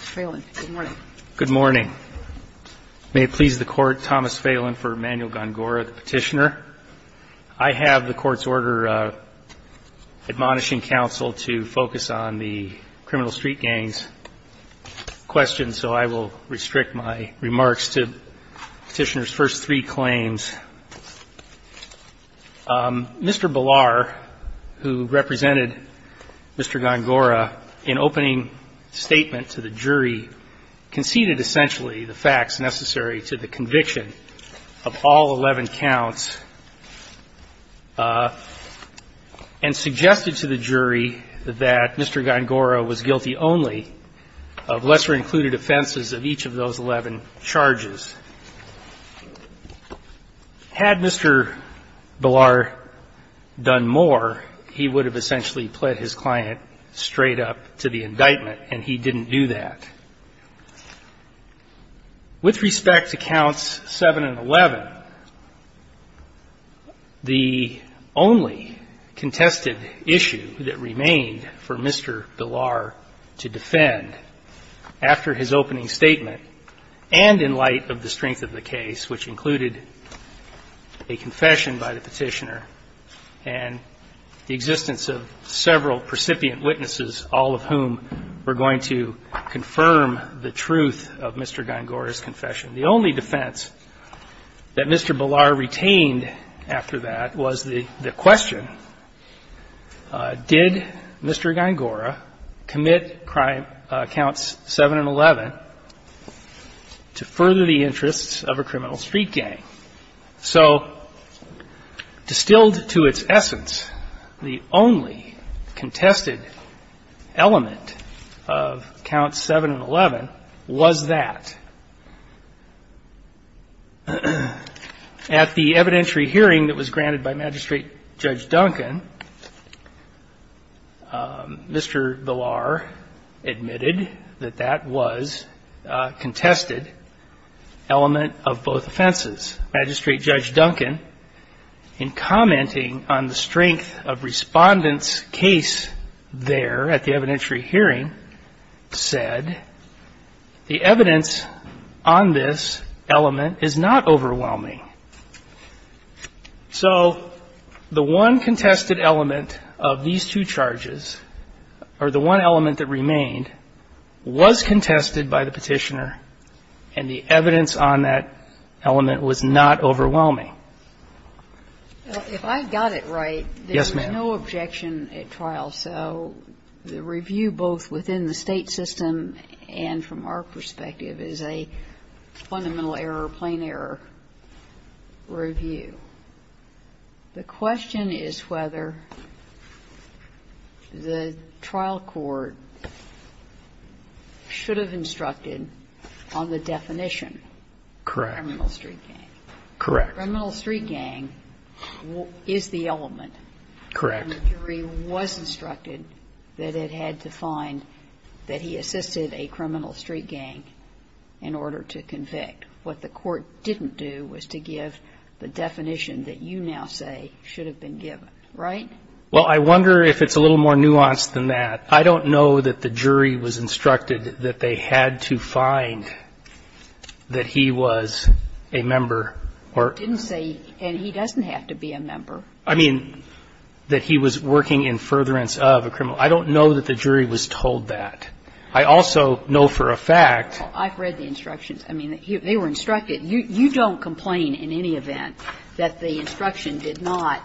FALIN Good morning. May it please the Court, Thomas Falin for Emanuel Gorgora, the Petitioner. I have the Court's order admonishing counsel to focus on the criminal street gangs question, and so I will restrict my remarks to Petitioner's first three claims. Mr. Ballar, who represented Mr. Gorgora in opening statement to the jury, conceded essentially the facts necessary to the conviction of all 11 counts and suggested to the jury that Mr. Gorgora was guilty only of lesser-included offenses of each of those 11 charges. Had Mr. Ballar done more, he would have essentially pled his client straight up to the indictment, and he didn't do that. With respect to Counts 7 and 11, the only contested issue that remained for Mr. Ballar to defend after his opening statement and in light of the strength of the case, which included a confession by the Petitioner and the existence of several precipient witnesses, all of whom were going to confirm the truth of Mr. Gorgora's confession, the only defense that Mr. Ballar retained after that was the question, did Mr. Gorgora commit Counts 7 and 11 to further the interests of a criminal street gang? So distilled to its essence, the only contested element of Counts 7 and 11 was that. At the evidentiary hearing that was granted by Magistrate Judge Duncan, Mr. Ballar admitted that that was a contested element of both offenses. Magistrate Judge Duncan, in commenting on the strength of Respondent's case there at the evidentiary hearing, said the evidence on this element is not overwhelming. So the one contested element of these two charges, or the one element that remained, was contested by the Petitioner, and the evidence on that element was not overwhelming. If I got it right, there was no objection at trial. So the review both within the State system and from our perspective is a fundamental error, plain error review. The question is whether the trial court should have instructed on the definition of a criminal street gang. Correct. Criminal street gang is the element. Correct. The jury was instructed that it had to find that he assisted a criminal street gang in order to convict. What the court didn't do was to give the definition that you now say should have been given. Right? Well, I wonder if it's a little more nuanced than that. I don't know that the jury was instructed that they had to find that he was a member. Didn't say he doesn't have to be a member. I mean, that he was working in furtherance of a criminal. I don't know that the jury was told that. I also know for a fact. I've read the instructions. I mean, they were instructed. You don't complain in any event that the instruction did not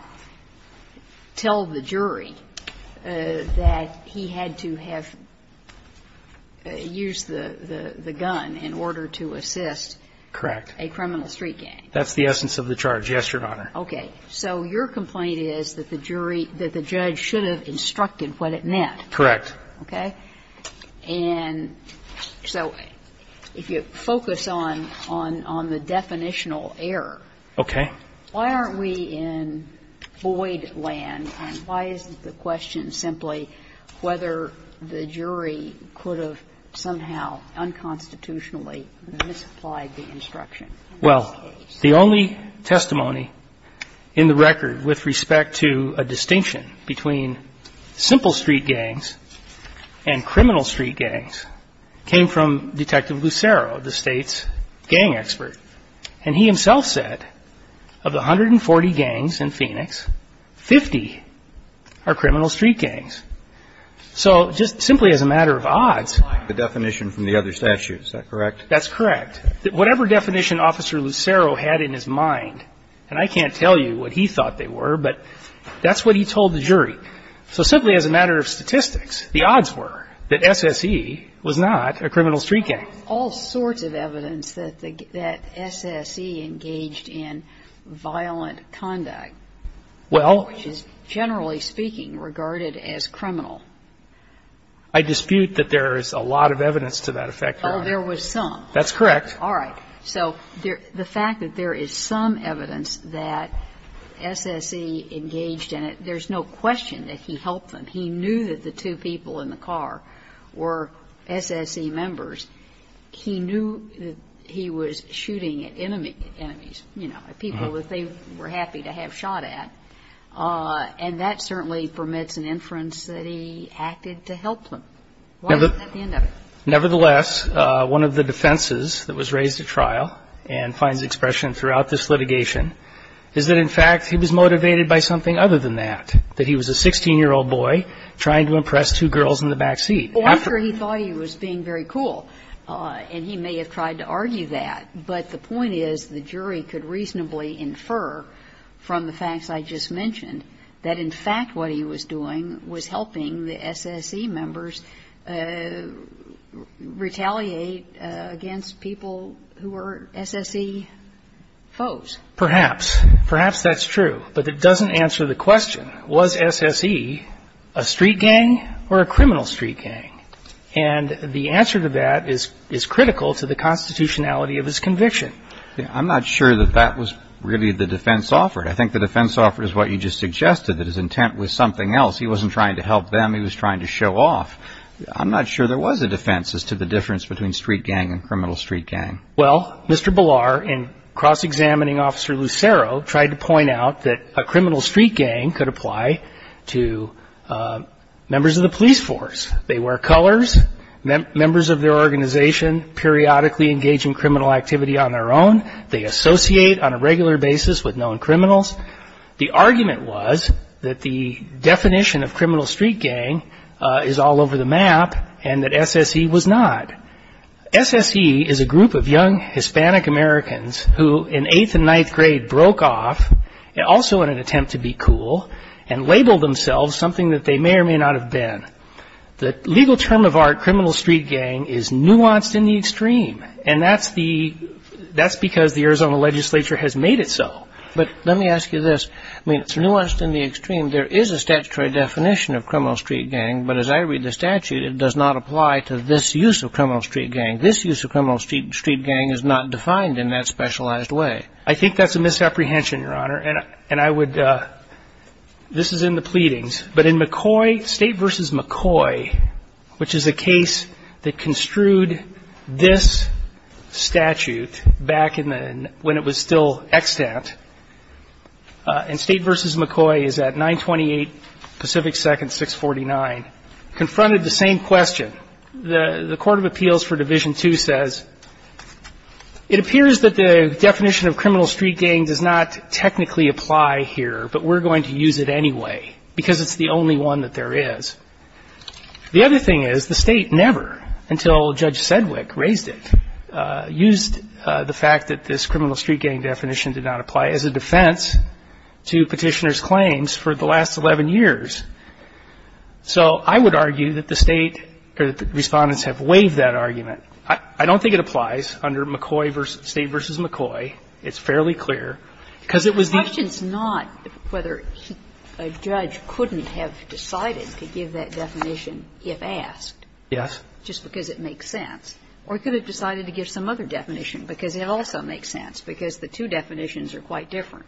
tell the jury that he had to have used the gun in order to assist. Correct. A criminal street gang. That's the essence of the charge. Yes, Your Honor. Okay. So your complaint is that the jury, that the judge should have instructed what it meant. Correct. Okay. And so if you focus on the definitional error. Okay. Why aren't we in Boyd land, and why is the question simply whether the jury could have somehow unconstitutionally misapplied the instruction? Well, the only testimony in the record with respect to a distinction between simple street gangs and criminal street gangs came from Detective Lucero, the state's gang expert. And he himself said of the 140 gangs in Phoenix, 50 are criminal street gangs. So just simply as a matter of odds. The definition from the other statute, is that correct? That's correct. Whatever definition Officer Lucero had in his mind, and I can't tell you what he thought they were, but that's what he told the jury. So simply as a matter of statistics, the odds were that SSE was not a criminal street gang. All sorts of evidence that SSE engaged in violent conduct. Well. Which is generally speaking regarded as criminal. I dispute that there is a lot of evidence to that effect, Your Honor. Oh, there was some. That's correct. All right. So the fact that there is some evidence that SSE engaged in it, there's no question that he helped them. He knew that the two people in the car were SSE members. He knew that he was shooting at enemies, you know, people that they were happy to have shot at. And that certainly permits an inference that he acted to help them. Why isn't that the end of it? Nevertheless, one of the defenses that was raised at trial and finds expression throughout this litigation is that, in fact, he was motivated by something other than that, that he was a 16-year-old boy trying to impress two girls in the back seat. After he thought he was being very cool, and he may have tried to argue that, but the point is the jury could reasonably infer from the facts I just mentioned that, in fact, what he was doing was helping the SSE members retaliate against people who were SSE foes. Perhaps. Perhaps that's true. But it doesn't answer the question, was SSE a street gang or a criminal street gang? And the answer to that is critical to the constitutionality of his conviction. I'm not sure that that was really the defense offered. I think the defense offered is what you just suggested, that his intent was something else. He wasn't trying to help them. He was trying to show off. I'm not sure there was a defense as to the difference between street gang and criminal street gang. Well, Mr. Ballar and cross-examining Officer Lucero tried to point out that a criminal street gang could apply to members of the police force. They wear colors, members of their organization periodically engage in criminal activity on their own. They associate on a regular basis with known criminals. The argument was that the definition of criminal street gang is all over the map and that SSE was not. SSE is a group of young Hispanic Americans who, in eighth and ninth grade, broke off, also in an attempt to be cool, and labeled themselves something that they may or may not have been. The legal term of art, criminal street gang, is nuanced in the extreme, and that's because the Arizona legislature has made it so. But let me ask you this. I mean, it's nuanced in the extreme. There is a statutory definition of criminal street gang, but as I read the criminal street gang, this use of criminal street gang is not defined in that specialized way. I think that's a misapprehension, Your Honor. And I would, this is in the pleadings, but in McCoy, State v. McCoy, which is a case that construed this statute back in the, when it was still extant, and State v. McCoy is at 928 Pacific 2nd, 649, confronted the same question. The Court of Appeals for Division II says, it appears that the definition of criminal street gang does not technically apply here, but we're going to use it anyway, because it's the only one that there is. The other thing is, the State never, until Judge Sedwick raised it, used the fact that this criminal street gang definition did not apply as a defense to Petitioner's claims for the last 11 years. So I would argue that the State, or that the Respondents have waived that argument. I don't think it applies under McCoy v. State v. McCoy. It's fairly clear, because it was the ---- The question is not whether a judge couldn't have decided to give that definition if asked. Yes. Just because it makes sense. Or he could have decided to give some other definition, because it also makes sense, because the two definitions are quite different.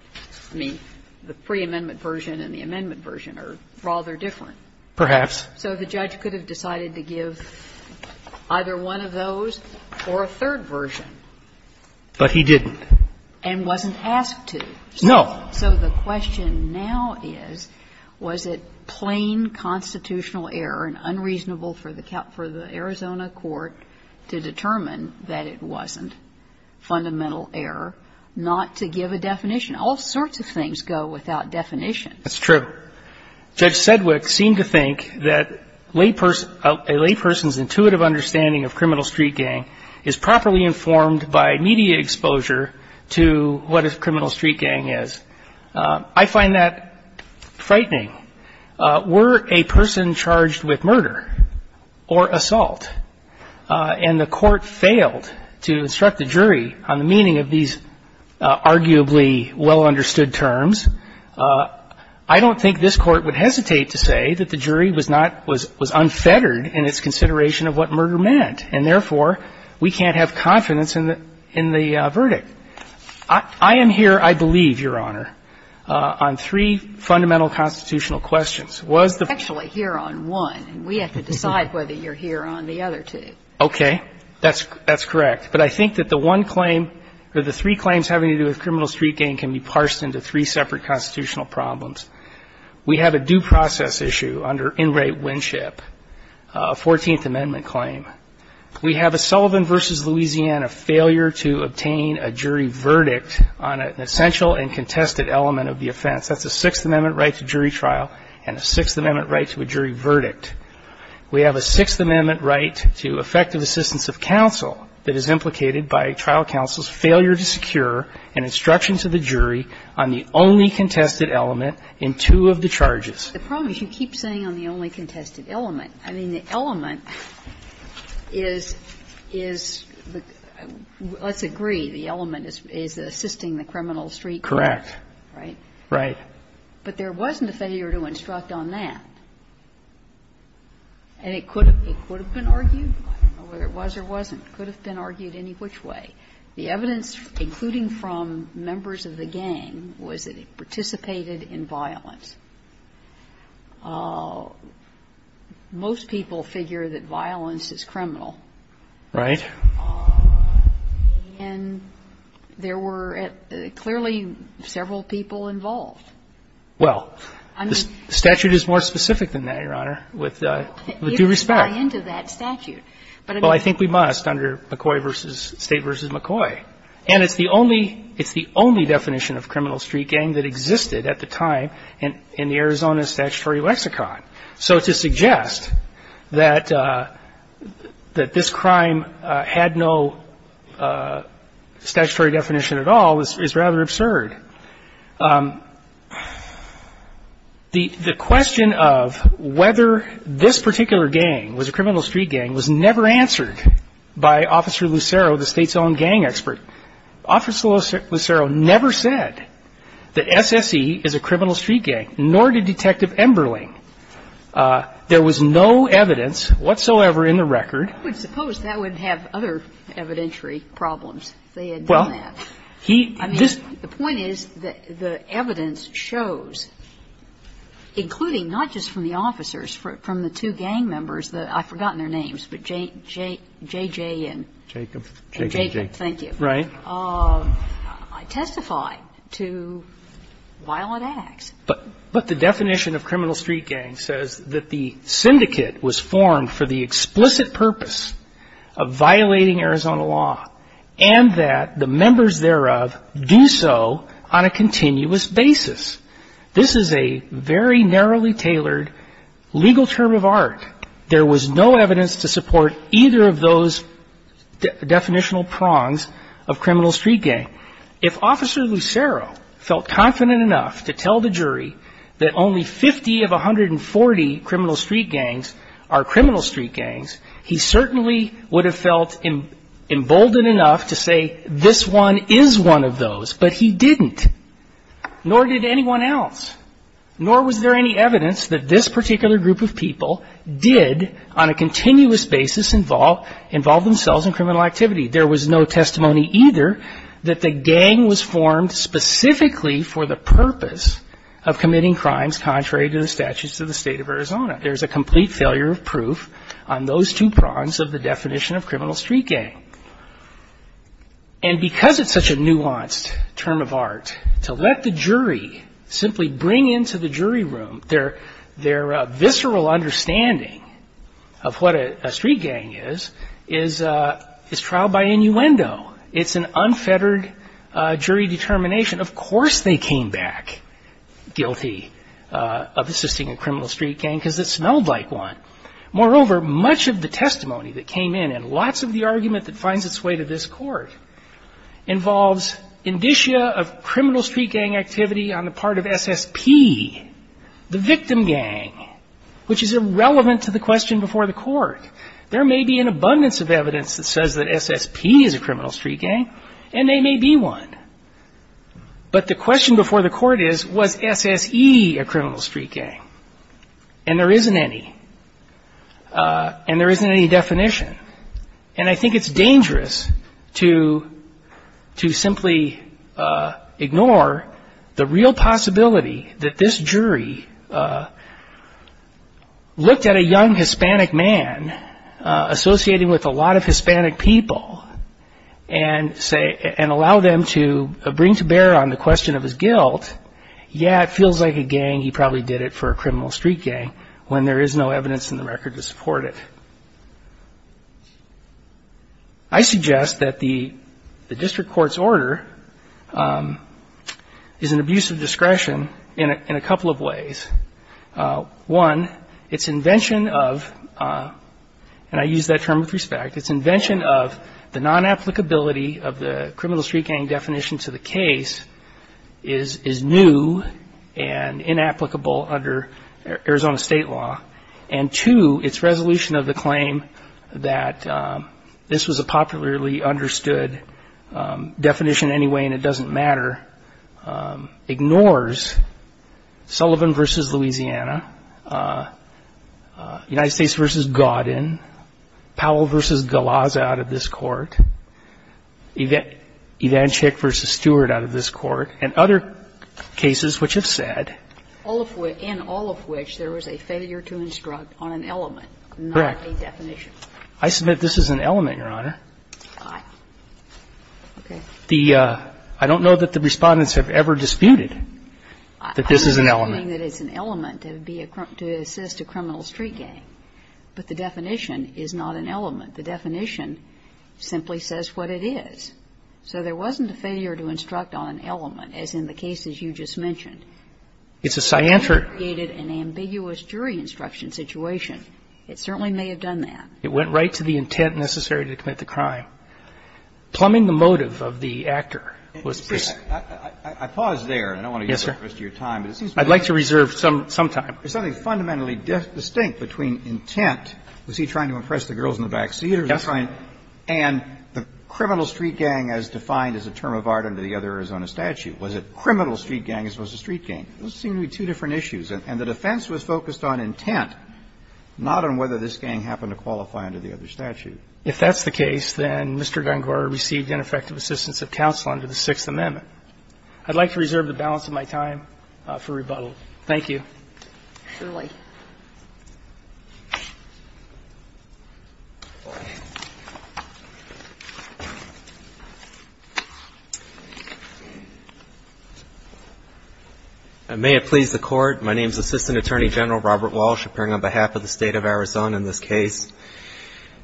I mean, the preamendment version and the amendment version are rather different. Perhaps. So the judge could have decided to give either one of those or a third version. But he didn't. And wasn't asked to. No. So the question now is, was it plain constitutional error and unreasonable for the Arizona court to determine that it wasn't fundamental error not to give a definition? All sorts of things go without definition. That's true. Judge Sedwick seemed to think that a layperson's intuitive understanding of criminal street gang is properly informed by media exposure to what a criminal street gang is. I find that frightening. Were a person charged with murder or assault, and the court failed to instruct the jury on the meaning of these arguably well-understood terms, I don't think this Court would hesitate to say that the jury was not unfettered in its consideration of what murder meant, and therefore, we can't have confidence in the verdict. I am here, I believe, Your Honor, on three fundamental constitutional questions. Actually, here on one. And we have to decide whether you're here on the other two. Okay. That's correct. But I think that the one claim or the three claims having to do with criminal street gang can be parsed into three separate constitutional problems. We have a due process issue under In Re Winship, a 14th Amendment claim. We have a Sullivan v. Louisiana failure to obtain a jury verdict on an essential and contested element of the offense. That's a Sixth Amendment right to jury trial and a Sixth Amendment right to a jury verdict. We have a Sixth Amendment right to effective assistance of counsel that is implicated by trial counsel's failure to secure an instruction to the jury on the only contested element in two of the charges. The problem is you keep saying on the only contested element. I mean, the element is the – let's agree the element is assisting the criminal street gang. Correct. Right? Right. But there wasn't a failure to instruct on that. And it could have been argued. I don't know whether it was or wasn't. It could have been argued any which way. The evidence, including from members of the gang, was that it participated in violence. Most people figure that violence is criminal. Right. And there were clearly several people involved. Well, the statute is more specific than that, Your Honor, with due respect. Even by end of that statute. Well, I think we must under McCoy v. State v. McCoy. And it's the only definition of criminal street gang that existed at the time in the Arizona statutory lexicon. So to suggest that this crime had no statutory definition at all is rather absurd. The question of whether this particular gang was a criminal street gang was never answered by Officer Lucero, the State's own gang expert. Officer Lucero never said that SSE is a criminal street gang, nor did Detective Emberling. There was no evidence whatsoever in the record. I would suppose that would have other evidentiary problems if they had done that. Well, he just ---- I mean, the point is that the evidence shows, including not just from the officers, from the two gang members, I've forgotten their names, but J.J. and ---- Jacob, J.J. And Jacob, thank you. Right. I testify to violent acts. But the definition of criminal street gang says that the syndicate was formed for the explicit purpose of violating Arizona law and that the members thereof do so on a continuous basis. This is a very narrowly tailored legal term of art. There was no evidence to support either of those definitional prongs of criminal street gang. If Officer Lucero felt confident enough to tell the jury that only 50 of 140 criminal street gangs are criminal street gangs, he certainly would have felt emboldened enough to say this one is one of those. But he didn't. Nor did anyone else. Nor was there any evidence that this particular group of people did on a continuous basis involve themselves in criminal activity. There was no testimony either that the gang was formed specifically for the purpose of committing crimes contrary to the statutes of the State of Arizona. There's a complete failure of proof on those two prongs of the definition of criminal street gang. And because it's such a nuanced term of art, to let the jury simply bring into the jury room their visceral understanding of what a street gang is, is trial by innuendo. It's an unfettered jury determination. Of course they came back guilty of assisting a criminal street gang because it smelled like one. Moreover, much of the testimony that came in and lots of the argument that finds its way to this court involves of criminal street gang activity on the part of SSP, the victim gang, which is irrelevant to the question before the court. There may be an abundance of evidence that says that SSP is a criminal street gang, and they may be one. But the question before the court is, was SSE a criminal street gang? And there isn't any. And there isn't any definition. And I think it's dangerous to simply ignore the real possibility that this jury looked at a young Hispanic man associating with a lot of Hispanic people and allow them to bring to bear on the question of his guilt. Yeah, it feels like a gang, he probably did it for a criminal street gang when there is no evidence in the record to suggest that the district court's order is an abuse of discretion in a couple of ways. One, its invention of, and I use that term with respect, its invention of the non-applicability of the criminal street gang definition to the case is new and inapplicable under Arizona state law. And two, its resolution of the claim that this was a popularly understood definition anyway and it doesn't matter ignores Sullivan v. Louisiana, United States v. Godin, Powell v. Galazza out of this court, Ivanchik v. Stewart out of this court, and other cases which have said. All of which, in all of which, there was a failure to instruct on an element, not a definition. Correct. I submit this is an element, Your Honor. All right. Okay. The, I don't know that the Respondents have ever disputed that this is an element. I'm disputing that it's an element to assist a criminal street gang, but the definition is not an element. The definition simply says what it is. So there wasn't a failure to instruct on an element, as in the cases you just mentioned. It's a scientific. It created an ambiguous jury instruction situation. It certainly may have done that. It went right to the intent necessary to commit the crime. Plumbing the motive of the actor was precise. I pause there. Yes, sir. I don't want to use up the rest of your time. I'd like to reserve some time. There's something fundamentally distinct between intent. Was he trying to impress the girls in the back seat? Yes. And the criminal street gang, as defined as a term of art under the other Arizona statute, was a criminal street gang as was a street gang. Those seem to be two different issues. And the defense was focused on intent, not on whether this gang happened to qualify under the other statute. If that's the case, then Mr. Gungor received ineffective assistance of counsel under the Sixth Amendment. I'd like to reserve the balance of my time for rebuttal. Thank you. Mr. Shulman. And may it please the Court. My name is Assistant Attorney General Robert Walsh, appearing on behalf of the State of Arizona in this case.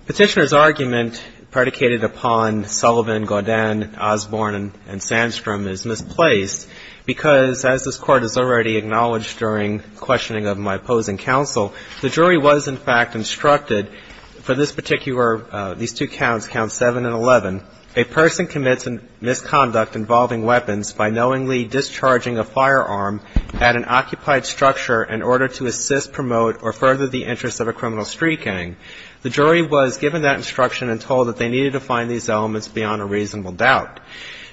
Petitioner's argument predicated upon Sullivan, Godin, Osborne and Sandstrom is misplaced because, as this Court has already acknowledged during questioning of my opposing counsel, the jury was in fact instructed for this particular, these two counts, counts 7 and 11, a person commits a misconduct involving weapons by knowingly discharging a firearm at an occupied structure in order to assist, promote or further the interests of a criminal street gang. The jury was given that instruction and told that they needed to find these elements beyond a reasonable doubt.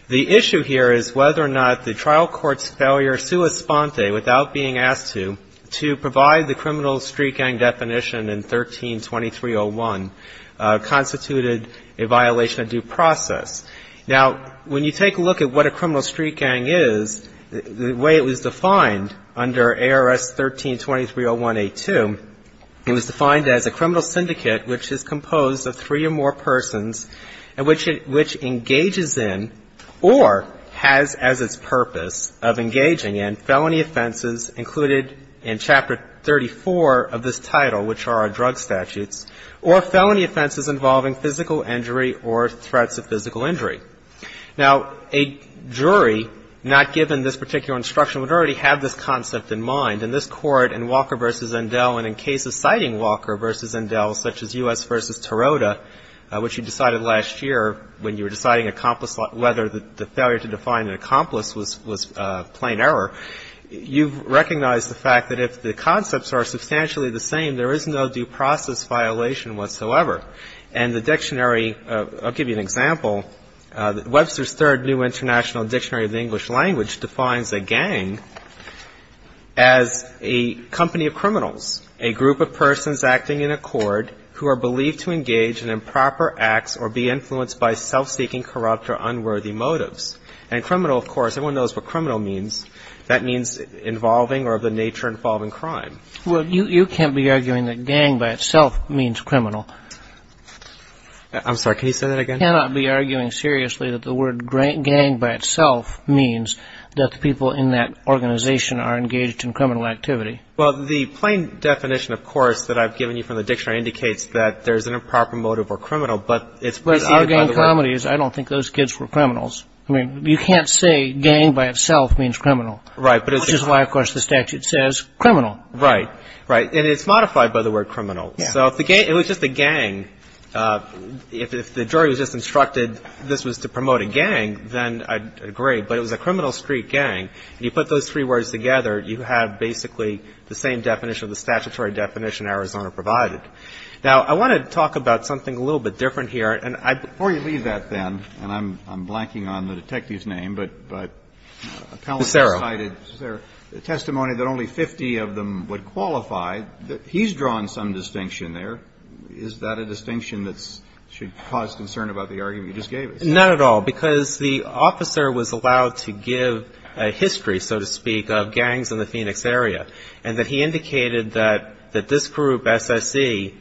The issue here is whether or not the trial court's failure sua sponte, without being asked to, to provide the criminal street gang definition in 13-2301 constituted a violation of due process. Now, when you take a look at what a criminal street gang is, the way it was defined under ARS 13-2301A2, it was defined as a criminal syndicate which is composed of three or more persons and which engages in or has as its purpose of engaging in felony offenses included in Chapter 34 of this title, which are our drug statutes, or felony offenses involving physical injury or threats of physical injury. Now, a jury not given this particular instruction would already have this concept in mind. And this Court in Walker v. Endell and in cases citing Walker v. Endell, such as U.S. v. when you were deciding whether the failure to define an accomplice was plain error, you recognize the fact that if the concepts are substantially the same, there is no due process violation whatsoever. And the dictionary, I'll give you an example. Webster's Third New International Dictionary of the English Language defines a gang as a company of criminals, a group of persons acting in accord who are believed to engage in improper acts or be influenced by self-seeking corrupt or unworthy motives. And criminal, of course, everyone knows what criminal means. That means involving or of the nature involving crime. Well, you can't be arguing that gang by itself means criminal. I'm sorry, can you say that again? You cannot be arguing seriously that the word gang by itself means that the people in that organization are engaged in criminal activity. Well, the plain definition, of course, that I've given you from the dictionary indicates that there's an improper motive or criminal, but it's presented by the word. But I see the problem is I don't think those kids were criminals. I mean, you can't say gang by itself means criminal. Right. Which is why, of course, the statute says criminal. Right. Right. And it's modified by the word criminal. Yeah. So if the gang, it was just a gang, if the jury was just instructed this was to promote a gang, then I'd agree. But it was a criminal street gang. You put those three words together, you have basically the same definition, the statutory definition Arizona provided. Now, I want to talk about something a little bit different here. Before you leave that then, and I'm blanking on the detective's name, but a colleague has cited testimony that only 50 of them would qualify. He's drawn some distinction there. Is that a distinction that should cause concern about the argument you just gave? Not at all. Because the officer was allowed to give a history, so to speak, of gangs in the Phoenix area. And that he indicated that this group, SSE,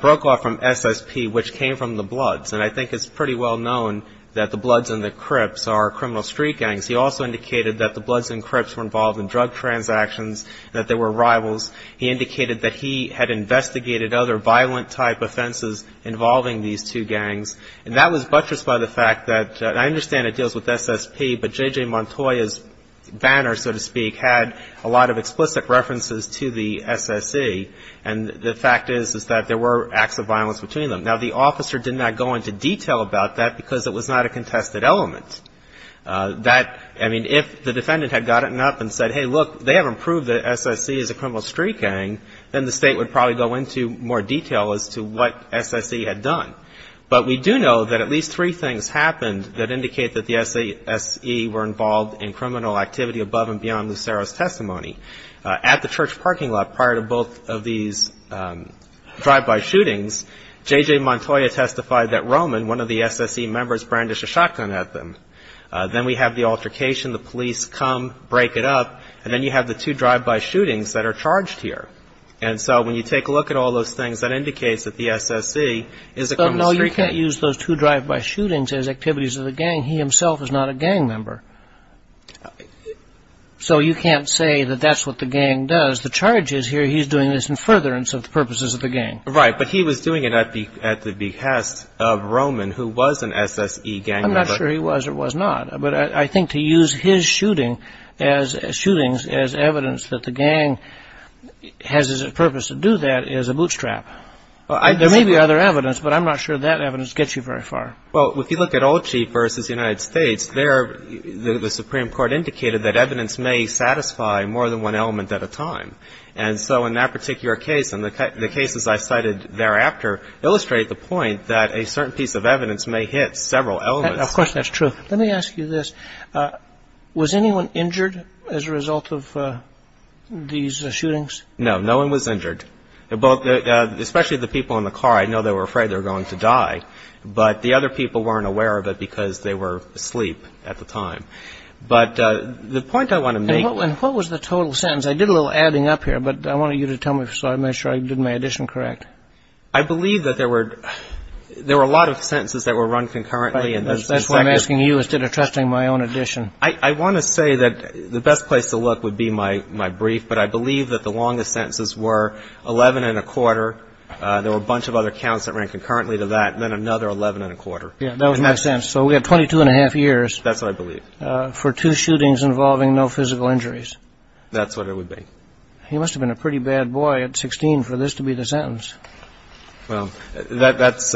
broke off from SSP, which came from the Bloods. And I think it's pretty well known that the Bloods and the Crips are criminal street gangs. He also indicated that the Bloods and Crips were involved in drug transactions, that they were rivals. He indicated that he had investigated other violent type offenses involving these two gangs. And that was buttressed by the fact that I understand it deals with SSP, but J.J. Montoya's banner, so to speak, had a lot of explicit references to the SSE. And the fact is, is that there were acts of violence between them. Now, the officer did not go into detail about that because it was not a contested element. That, I mean, if the defendant had gotten up and said, hey, look, they haven't proved that SSE is a criminal street gang, then the State would probably go into more detail as to what SSE had done. But we do know that at least three things happened that indicate that the SSE were involved in criminal activity above and beyond Lucero's testimony. At the church parking lot prior to both of these drive-by shootings, J.J. Montoya testified that Roman, one of the SSE members, brandished a shotgun at them. Then we have the altercation. The police come, break it up. And then you have the two drive-by shootings that are charged here. And so when you take a look at all those things, that indicates that the SSE is a criminal street gang. No, you can't use those two drive-by shootings as activities of the gang. He himself is not a gang member. So you can't say that that's what the gang does. The charge is here he's doing this in furtherance of the purposes of the gang. Right, but he was doing it at the behest of Roman, who was an SSE gang member. I'm not sure he was or was not. But I think to use his shootings as evidence that the gang has as a purpose to do that is a bootstrap. There may be other evidence, but I'm not sure that evidence gets you very far. Well, if you look at Olchee versus the United States, there the Supreme Court indicated that evidence may satisfy more than one element at a time. And so in that particular case and the cases I cited thereafter illustrate the point that a certain piece of evidence may hit several elements. Of course that's true. Let me ask you this. Was anyone injured as a result of these shootings? No, no one was injured, especially the people in the car. I know they were afraid they were going to die, but the other people weren't aware of it because they were asleep at the time. But the point I want to make – And what was the total sentence? I did a little adding up here, but I wanted you to tell me so I made sure I did my addition correct. I believe that there were a lot of sentences that were run concurrently. That's why I'm asking you instead of trusting my own addition. I want to say that the best place to look would be my brief, but I believe that the longest sentences were 11-1⁄4. There were a bunch of other counts that ran concurrently to that, then another 11-1⁄4. Yeah, that would make sense. So we have 22-1⁄2 years. That's what I believe. For two shootings involving no physical injuries. That's what it would be. He must have been a pretty bad boy at 16 for this to be the sentence. Well, that's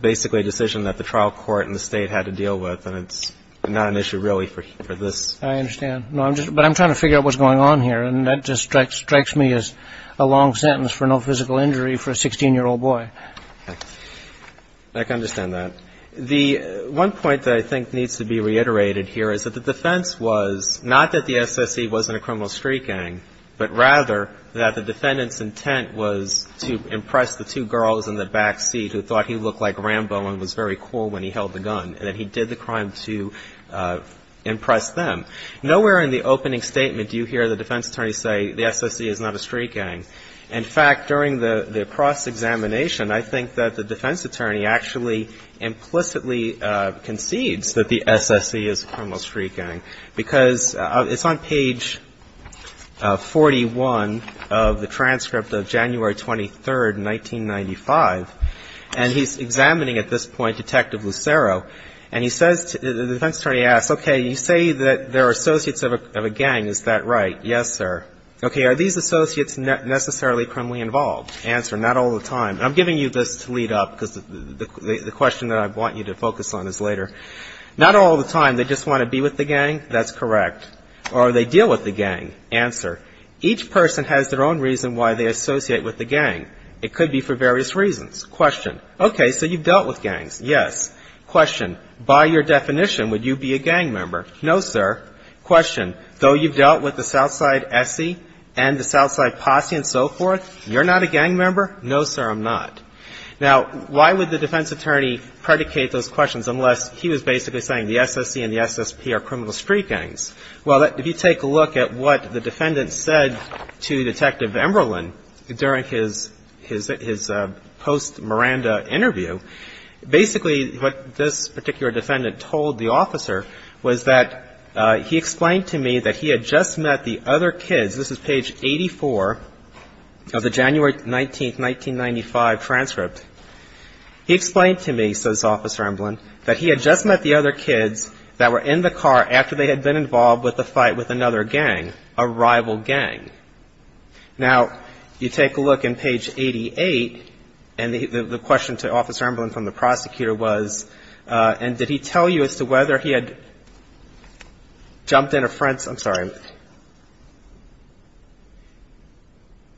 basically a decision that the trial court and the State had to deal with, and it's not an issue really for this. I understand. But I'm trying to figure out what's going on here, and that just strikes me as a long sentence for no physical injury for a 16-year-old boy. Okay. I can understand that. The one point that I think needs to be reiterated here is that the defense was not that the SSE wasn't a criminal street gang, but rather that the defendant's intent was to impress the two girls in the back seat who thought he looked like Rambo and was very cool when he held the gun, and that he did the crime to impress them. Nowhere in the opening statement do you hear the defense attorney say the SSE is not a street gang. In fact, during the cross-examination, I think that the defense attorney actually implicitly concedes that the SSE is a criminal street gang, because it's on page 41 of the transcript of January 23, 1995, and he's examining at this point Detective Lucero, and he says to the defense attorney, he asks, okay, you say that they're associates of a gang. Is that right? Yes, sir. Okay. Are these associates necessarily criminally involved? Answer, not all the time. I'm giving you this to lead up, because the question that I want you to focus on is later. Not all the time. They just want to be with the gang. That's correct. Or they deal with the gang. Answer, each person has their own reason why they associate with the gang. It could be for various reasons. Question, okay, so you've dealt with gangs. Yes. Question, by your definition, would you be a gang member? No, sir. Question, though you've dealt with the South Side SSE and the South Side Posse and so forth, you're not a gang member? No, sir, I'm not. Now, why would the defense attorney predicate those questions unless he was basically saying the SSE and the SSP are criminal street gangs? Well, if you take a look at what the defendant said to Detective Emberlin during his post-Miranda interview, basically what this particular defendant told the officer was that he explained to me that he had just met the other kids. This is page 84 of the January 19, 1995 transcript. He explained to me, says Officer Emberlin, that he had just met the other kids that were in the car after they had been involved with the fight with another gang, a rival gang. Now, you take a look in page 88, and the question to Officer Emberlin from the prosecutor was, and did he tell you as to whether he had jumped in a friend's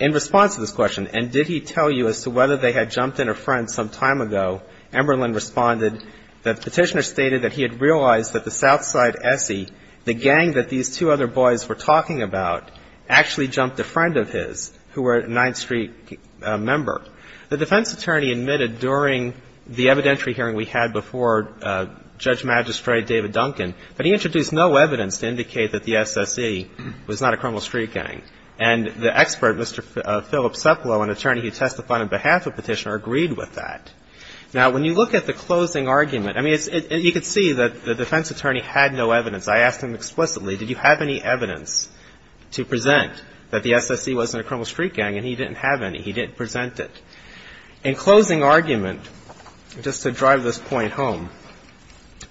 In response to this question, and did he tell you as to whether they had jumped in a friend's some time ago, Emberlin responded that the petitioner stated that he had realized that the South Side SSE, the gang that these two other boys were talking about, actually jumped a friend of his who were a 9th Street member. The defense attorney admitted during the evidentiary hearing we had before Judge Magistrate David Duncan that he introduced no evidence to indicate that the SSE was not a criminal street gang. And the expert, Mr. Philip Sepolo, an attorney who testified on behalf of the petitioner, agreed with that. Now, when you look at the closing argument, I mean, you can see that the defense attorney had no evidence. I asked him explicitly, did you have any evidence to present that the SSE wasn't a criminal street gang? And he didn't have any. He didn't present it. In closing argument, just to drive this point home,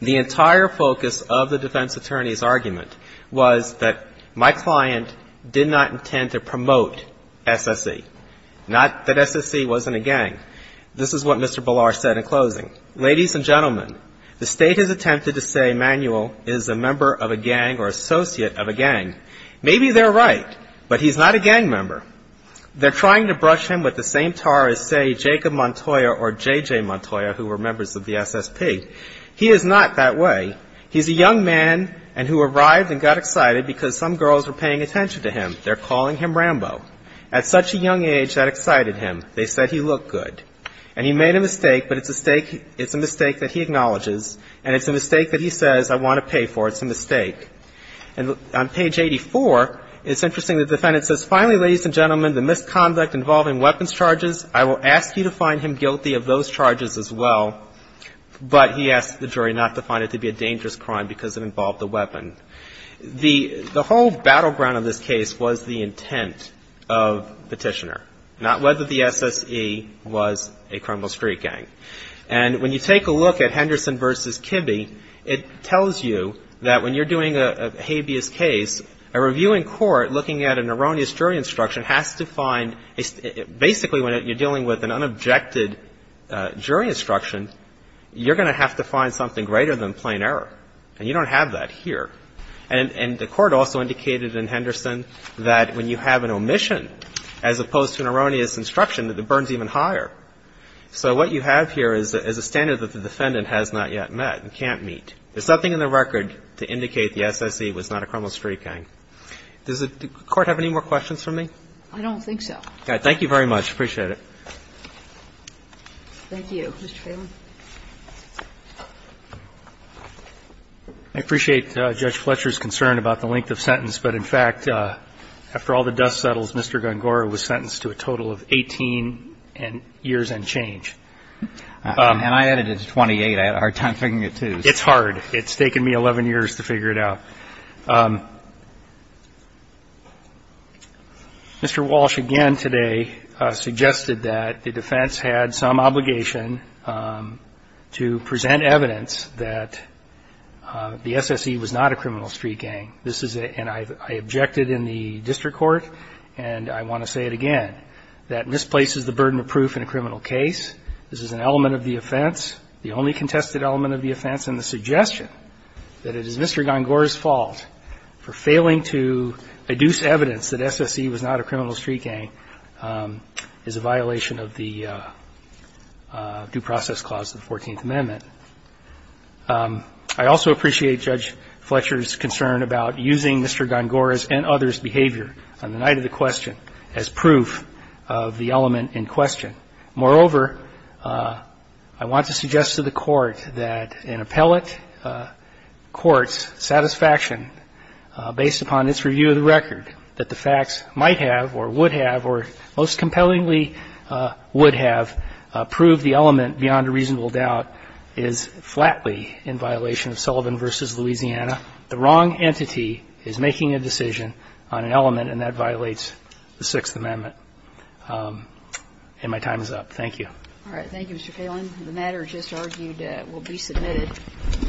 the entire focus of the defense attorney's argument was that my client did not intend to promote SSE, not that SSE wasn't a gang. This is what Mr. Ballard said in closing. Ladies and gentlemen, the State has attempted to say Manuel is a member of a gang or associate of a gang. Maybe they're right, but he's not a gang member. They're trying to brush him with the same tar as, say, Jacob Montoya or J.J. Montoya, who were members of the SSP. He is not that way. He's a young man and who arrived and got excited because some girls were paying attention to him. They're calling him Rambo. At such a young age, that excited him. They said he looked good. And he made a mistake, but it's a mistake that he acknowledges, and it's a mistake that he says, I want to pay for. It's a mistake. And on page 84, it's interesting, the defendant says, finally, ladies and gentlemen, the misconduct involving weapons charges, I will ask you to find him guilty of those charges as well. But he asks the jury not to find it to be a dangerous crime because it involved a weapon. The whole battleground of this case was the intent of Petitioner, not whether the SSE was a criminal street gang. And when you take a look at Henderson v. Kibbe, it tells you that when you're doing a habeas case, a review in court looking at an erroneous jury instruction has to find a — basically, when you're dealing with an unobjected jury instruction, you're going to have to find something greater than plain error. And you don't have that here. And the Court also indicated in Henderson that when you have an omission as opposed to an erroneous instruction, that it burns even higher. So what you have here is a standard that the defendant has not yet met and can't meet. There's nothing in the record to indicate the SSE was not a criminal street gang. Does the Court have any more questions for me? Kagan. I don't think so. Thank you very much. I appreciate it. Thank you, Mr. Phelan. I appreciate Judge Fletcher's concern about the length of sentence. But, in fact, after all the dust settles, Mr. Gongora was sentenced to a total of 18 years and change. And I added it to 28. I had a hard time figuring it out, too. It's hard. It's taken me 11 years to figure it out. Mr. Walsh again today suggested that the defense had some obligation, to present evidence that the SSE was not a criminal street gang. This is a ‑‑ and I objected in the district court, and I want to say it again, that misplaces the burden of proof in a criminal case. This is an element of the offense, the only contested element of the offense, and the suggestion that it is Mr. Gongora's fault for failing to adduce evidence that SSE was not a criminal street gang is a violation of the Due Process Clause of the 14th Amendment. I also appreciate Judge Fletcher's concern about using Mr. Gongora's and others' behavior on the night of the question as proof of the element in question. Moreover, I want to suggest to the Court that an appellate court's satisfaction, based upon its review of the record, that the facts might have or would have or most compellingly would have proved the element beyond a reasonable doubt is flatly in violation of Sullivan v. Louisiana. The wrong entity is making a decision on an element, and that violates the Sixth Amendment. And my time is up. Thank you. All right. Thank you, Mr. Kalin. The matter just argued will be submitted.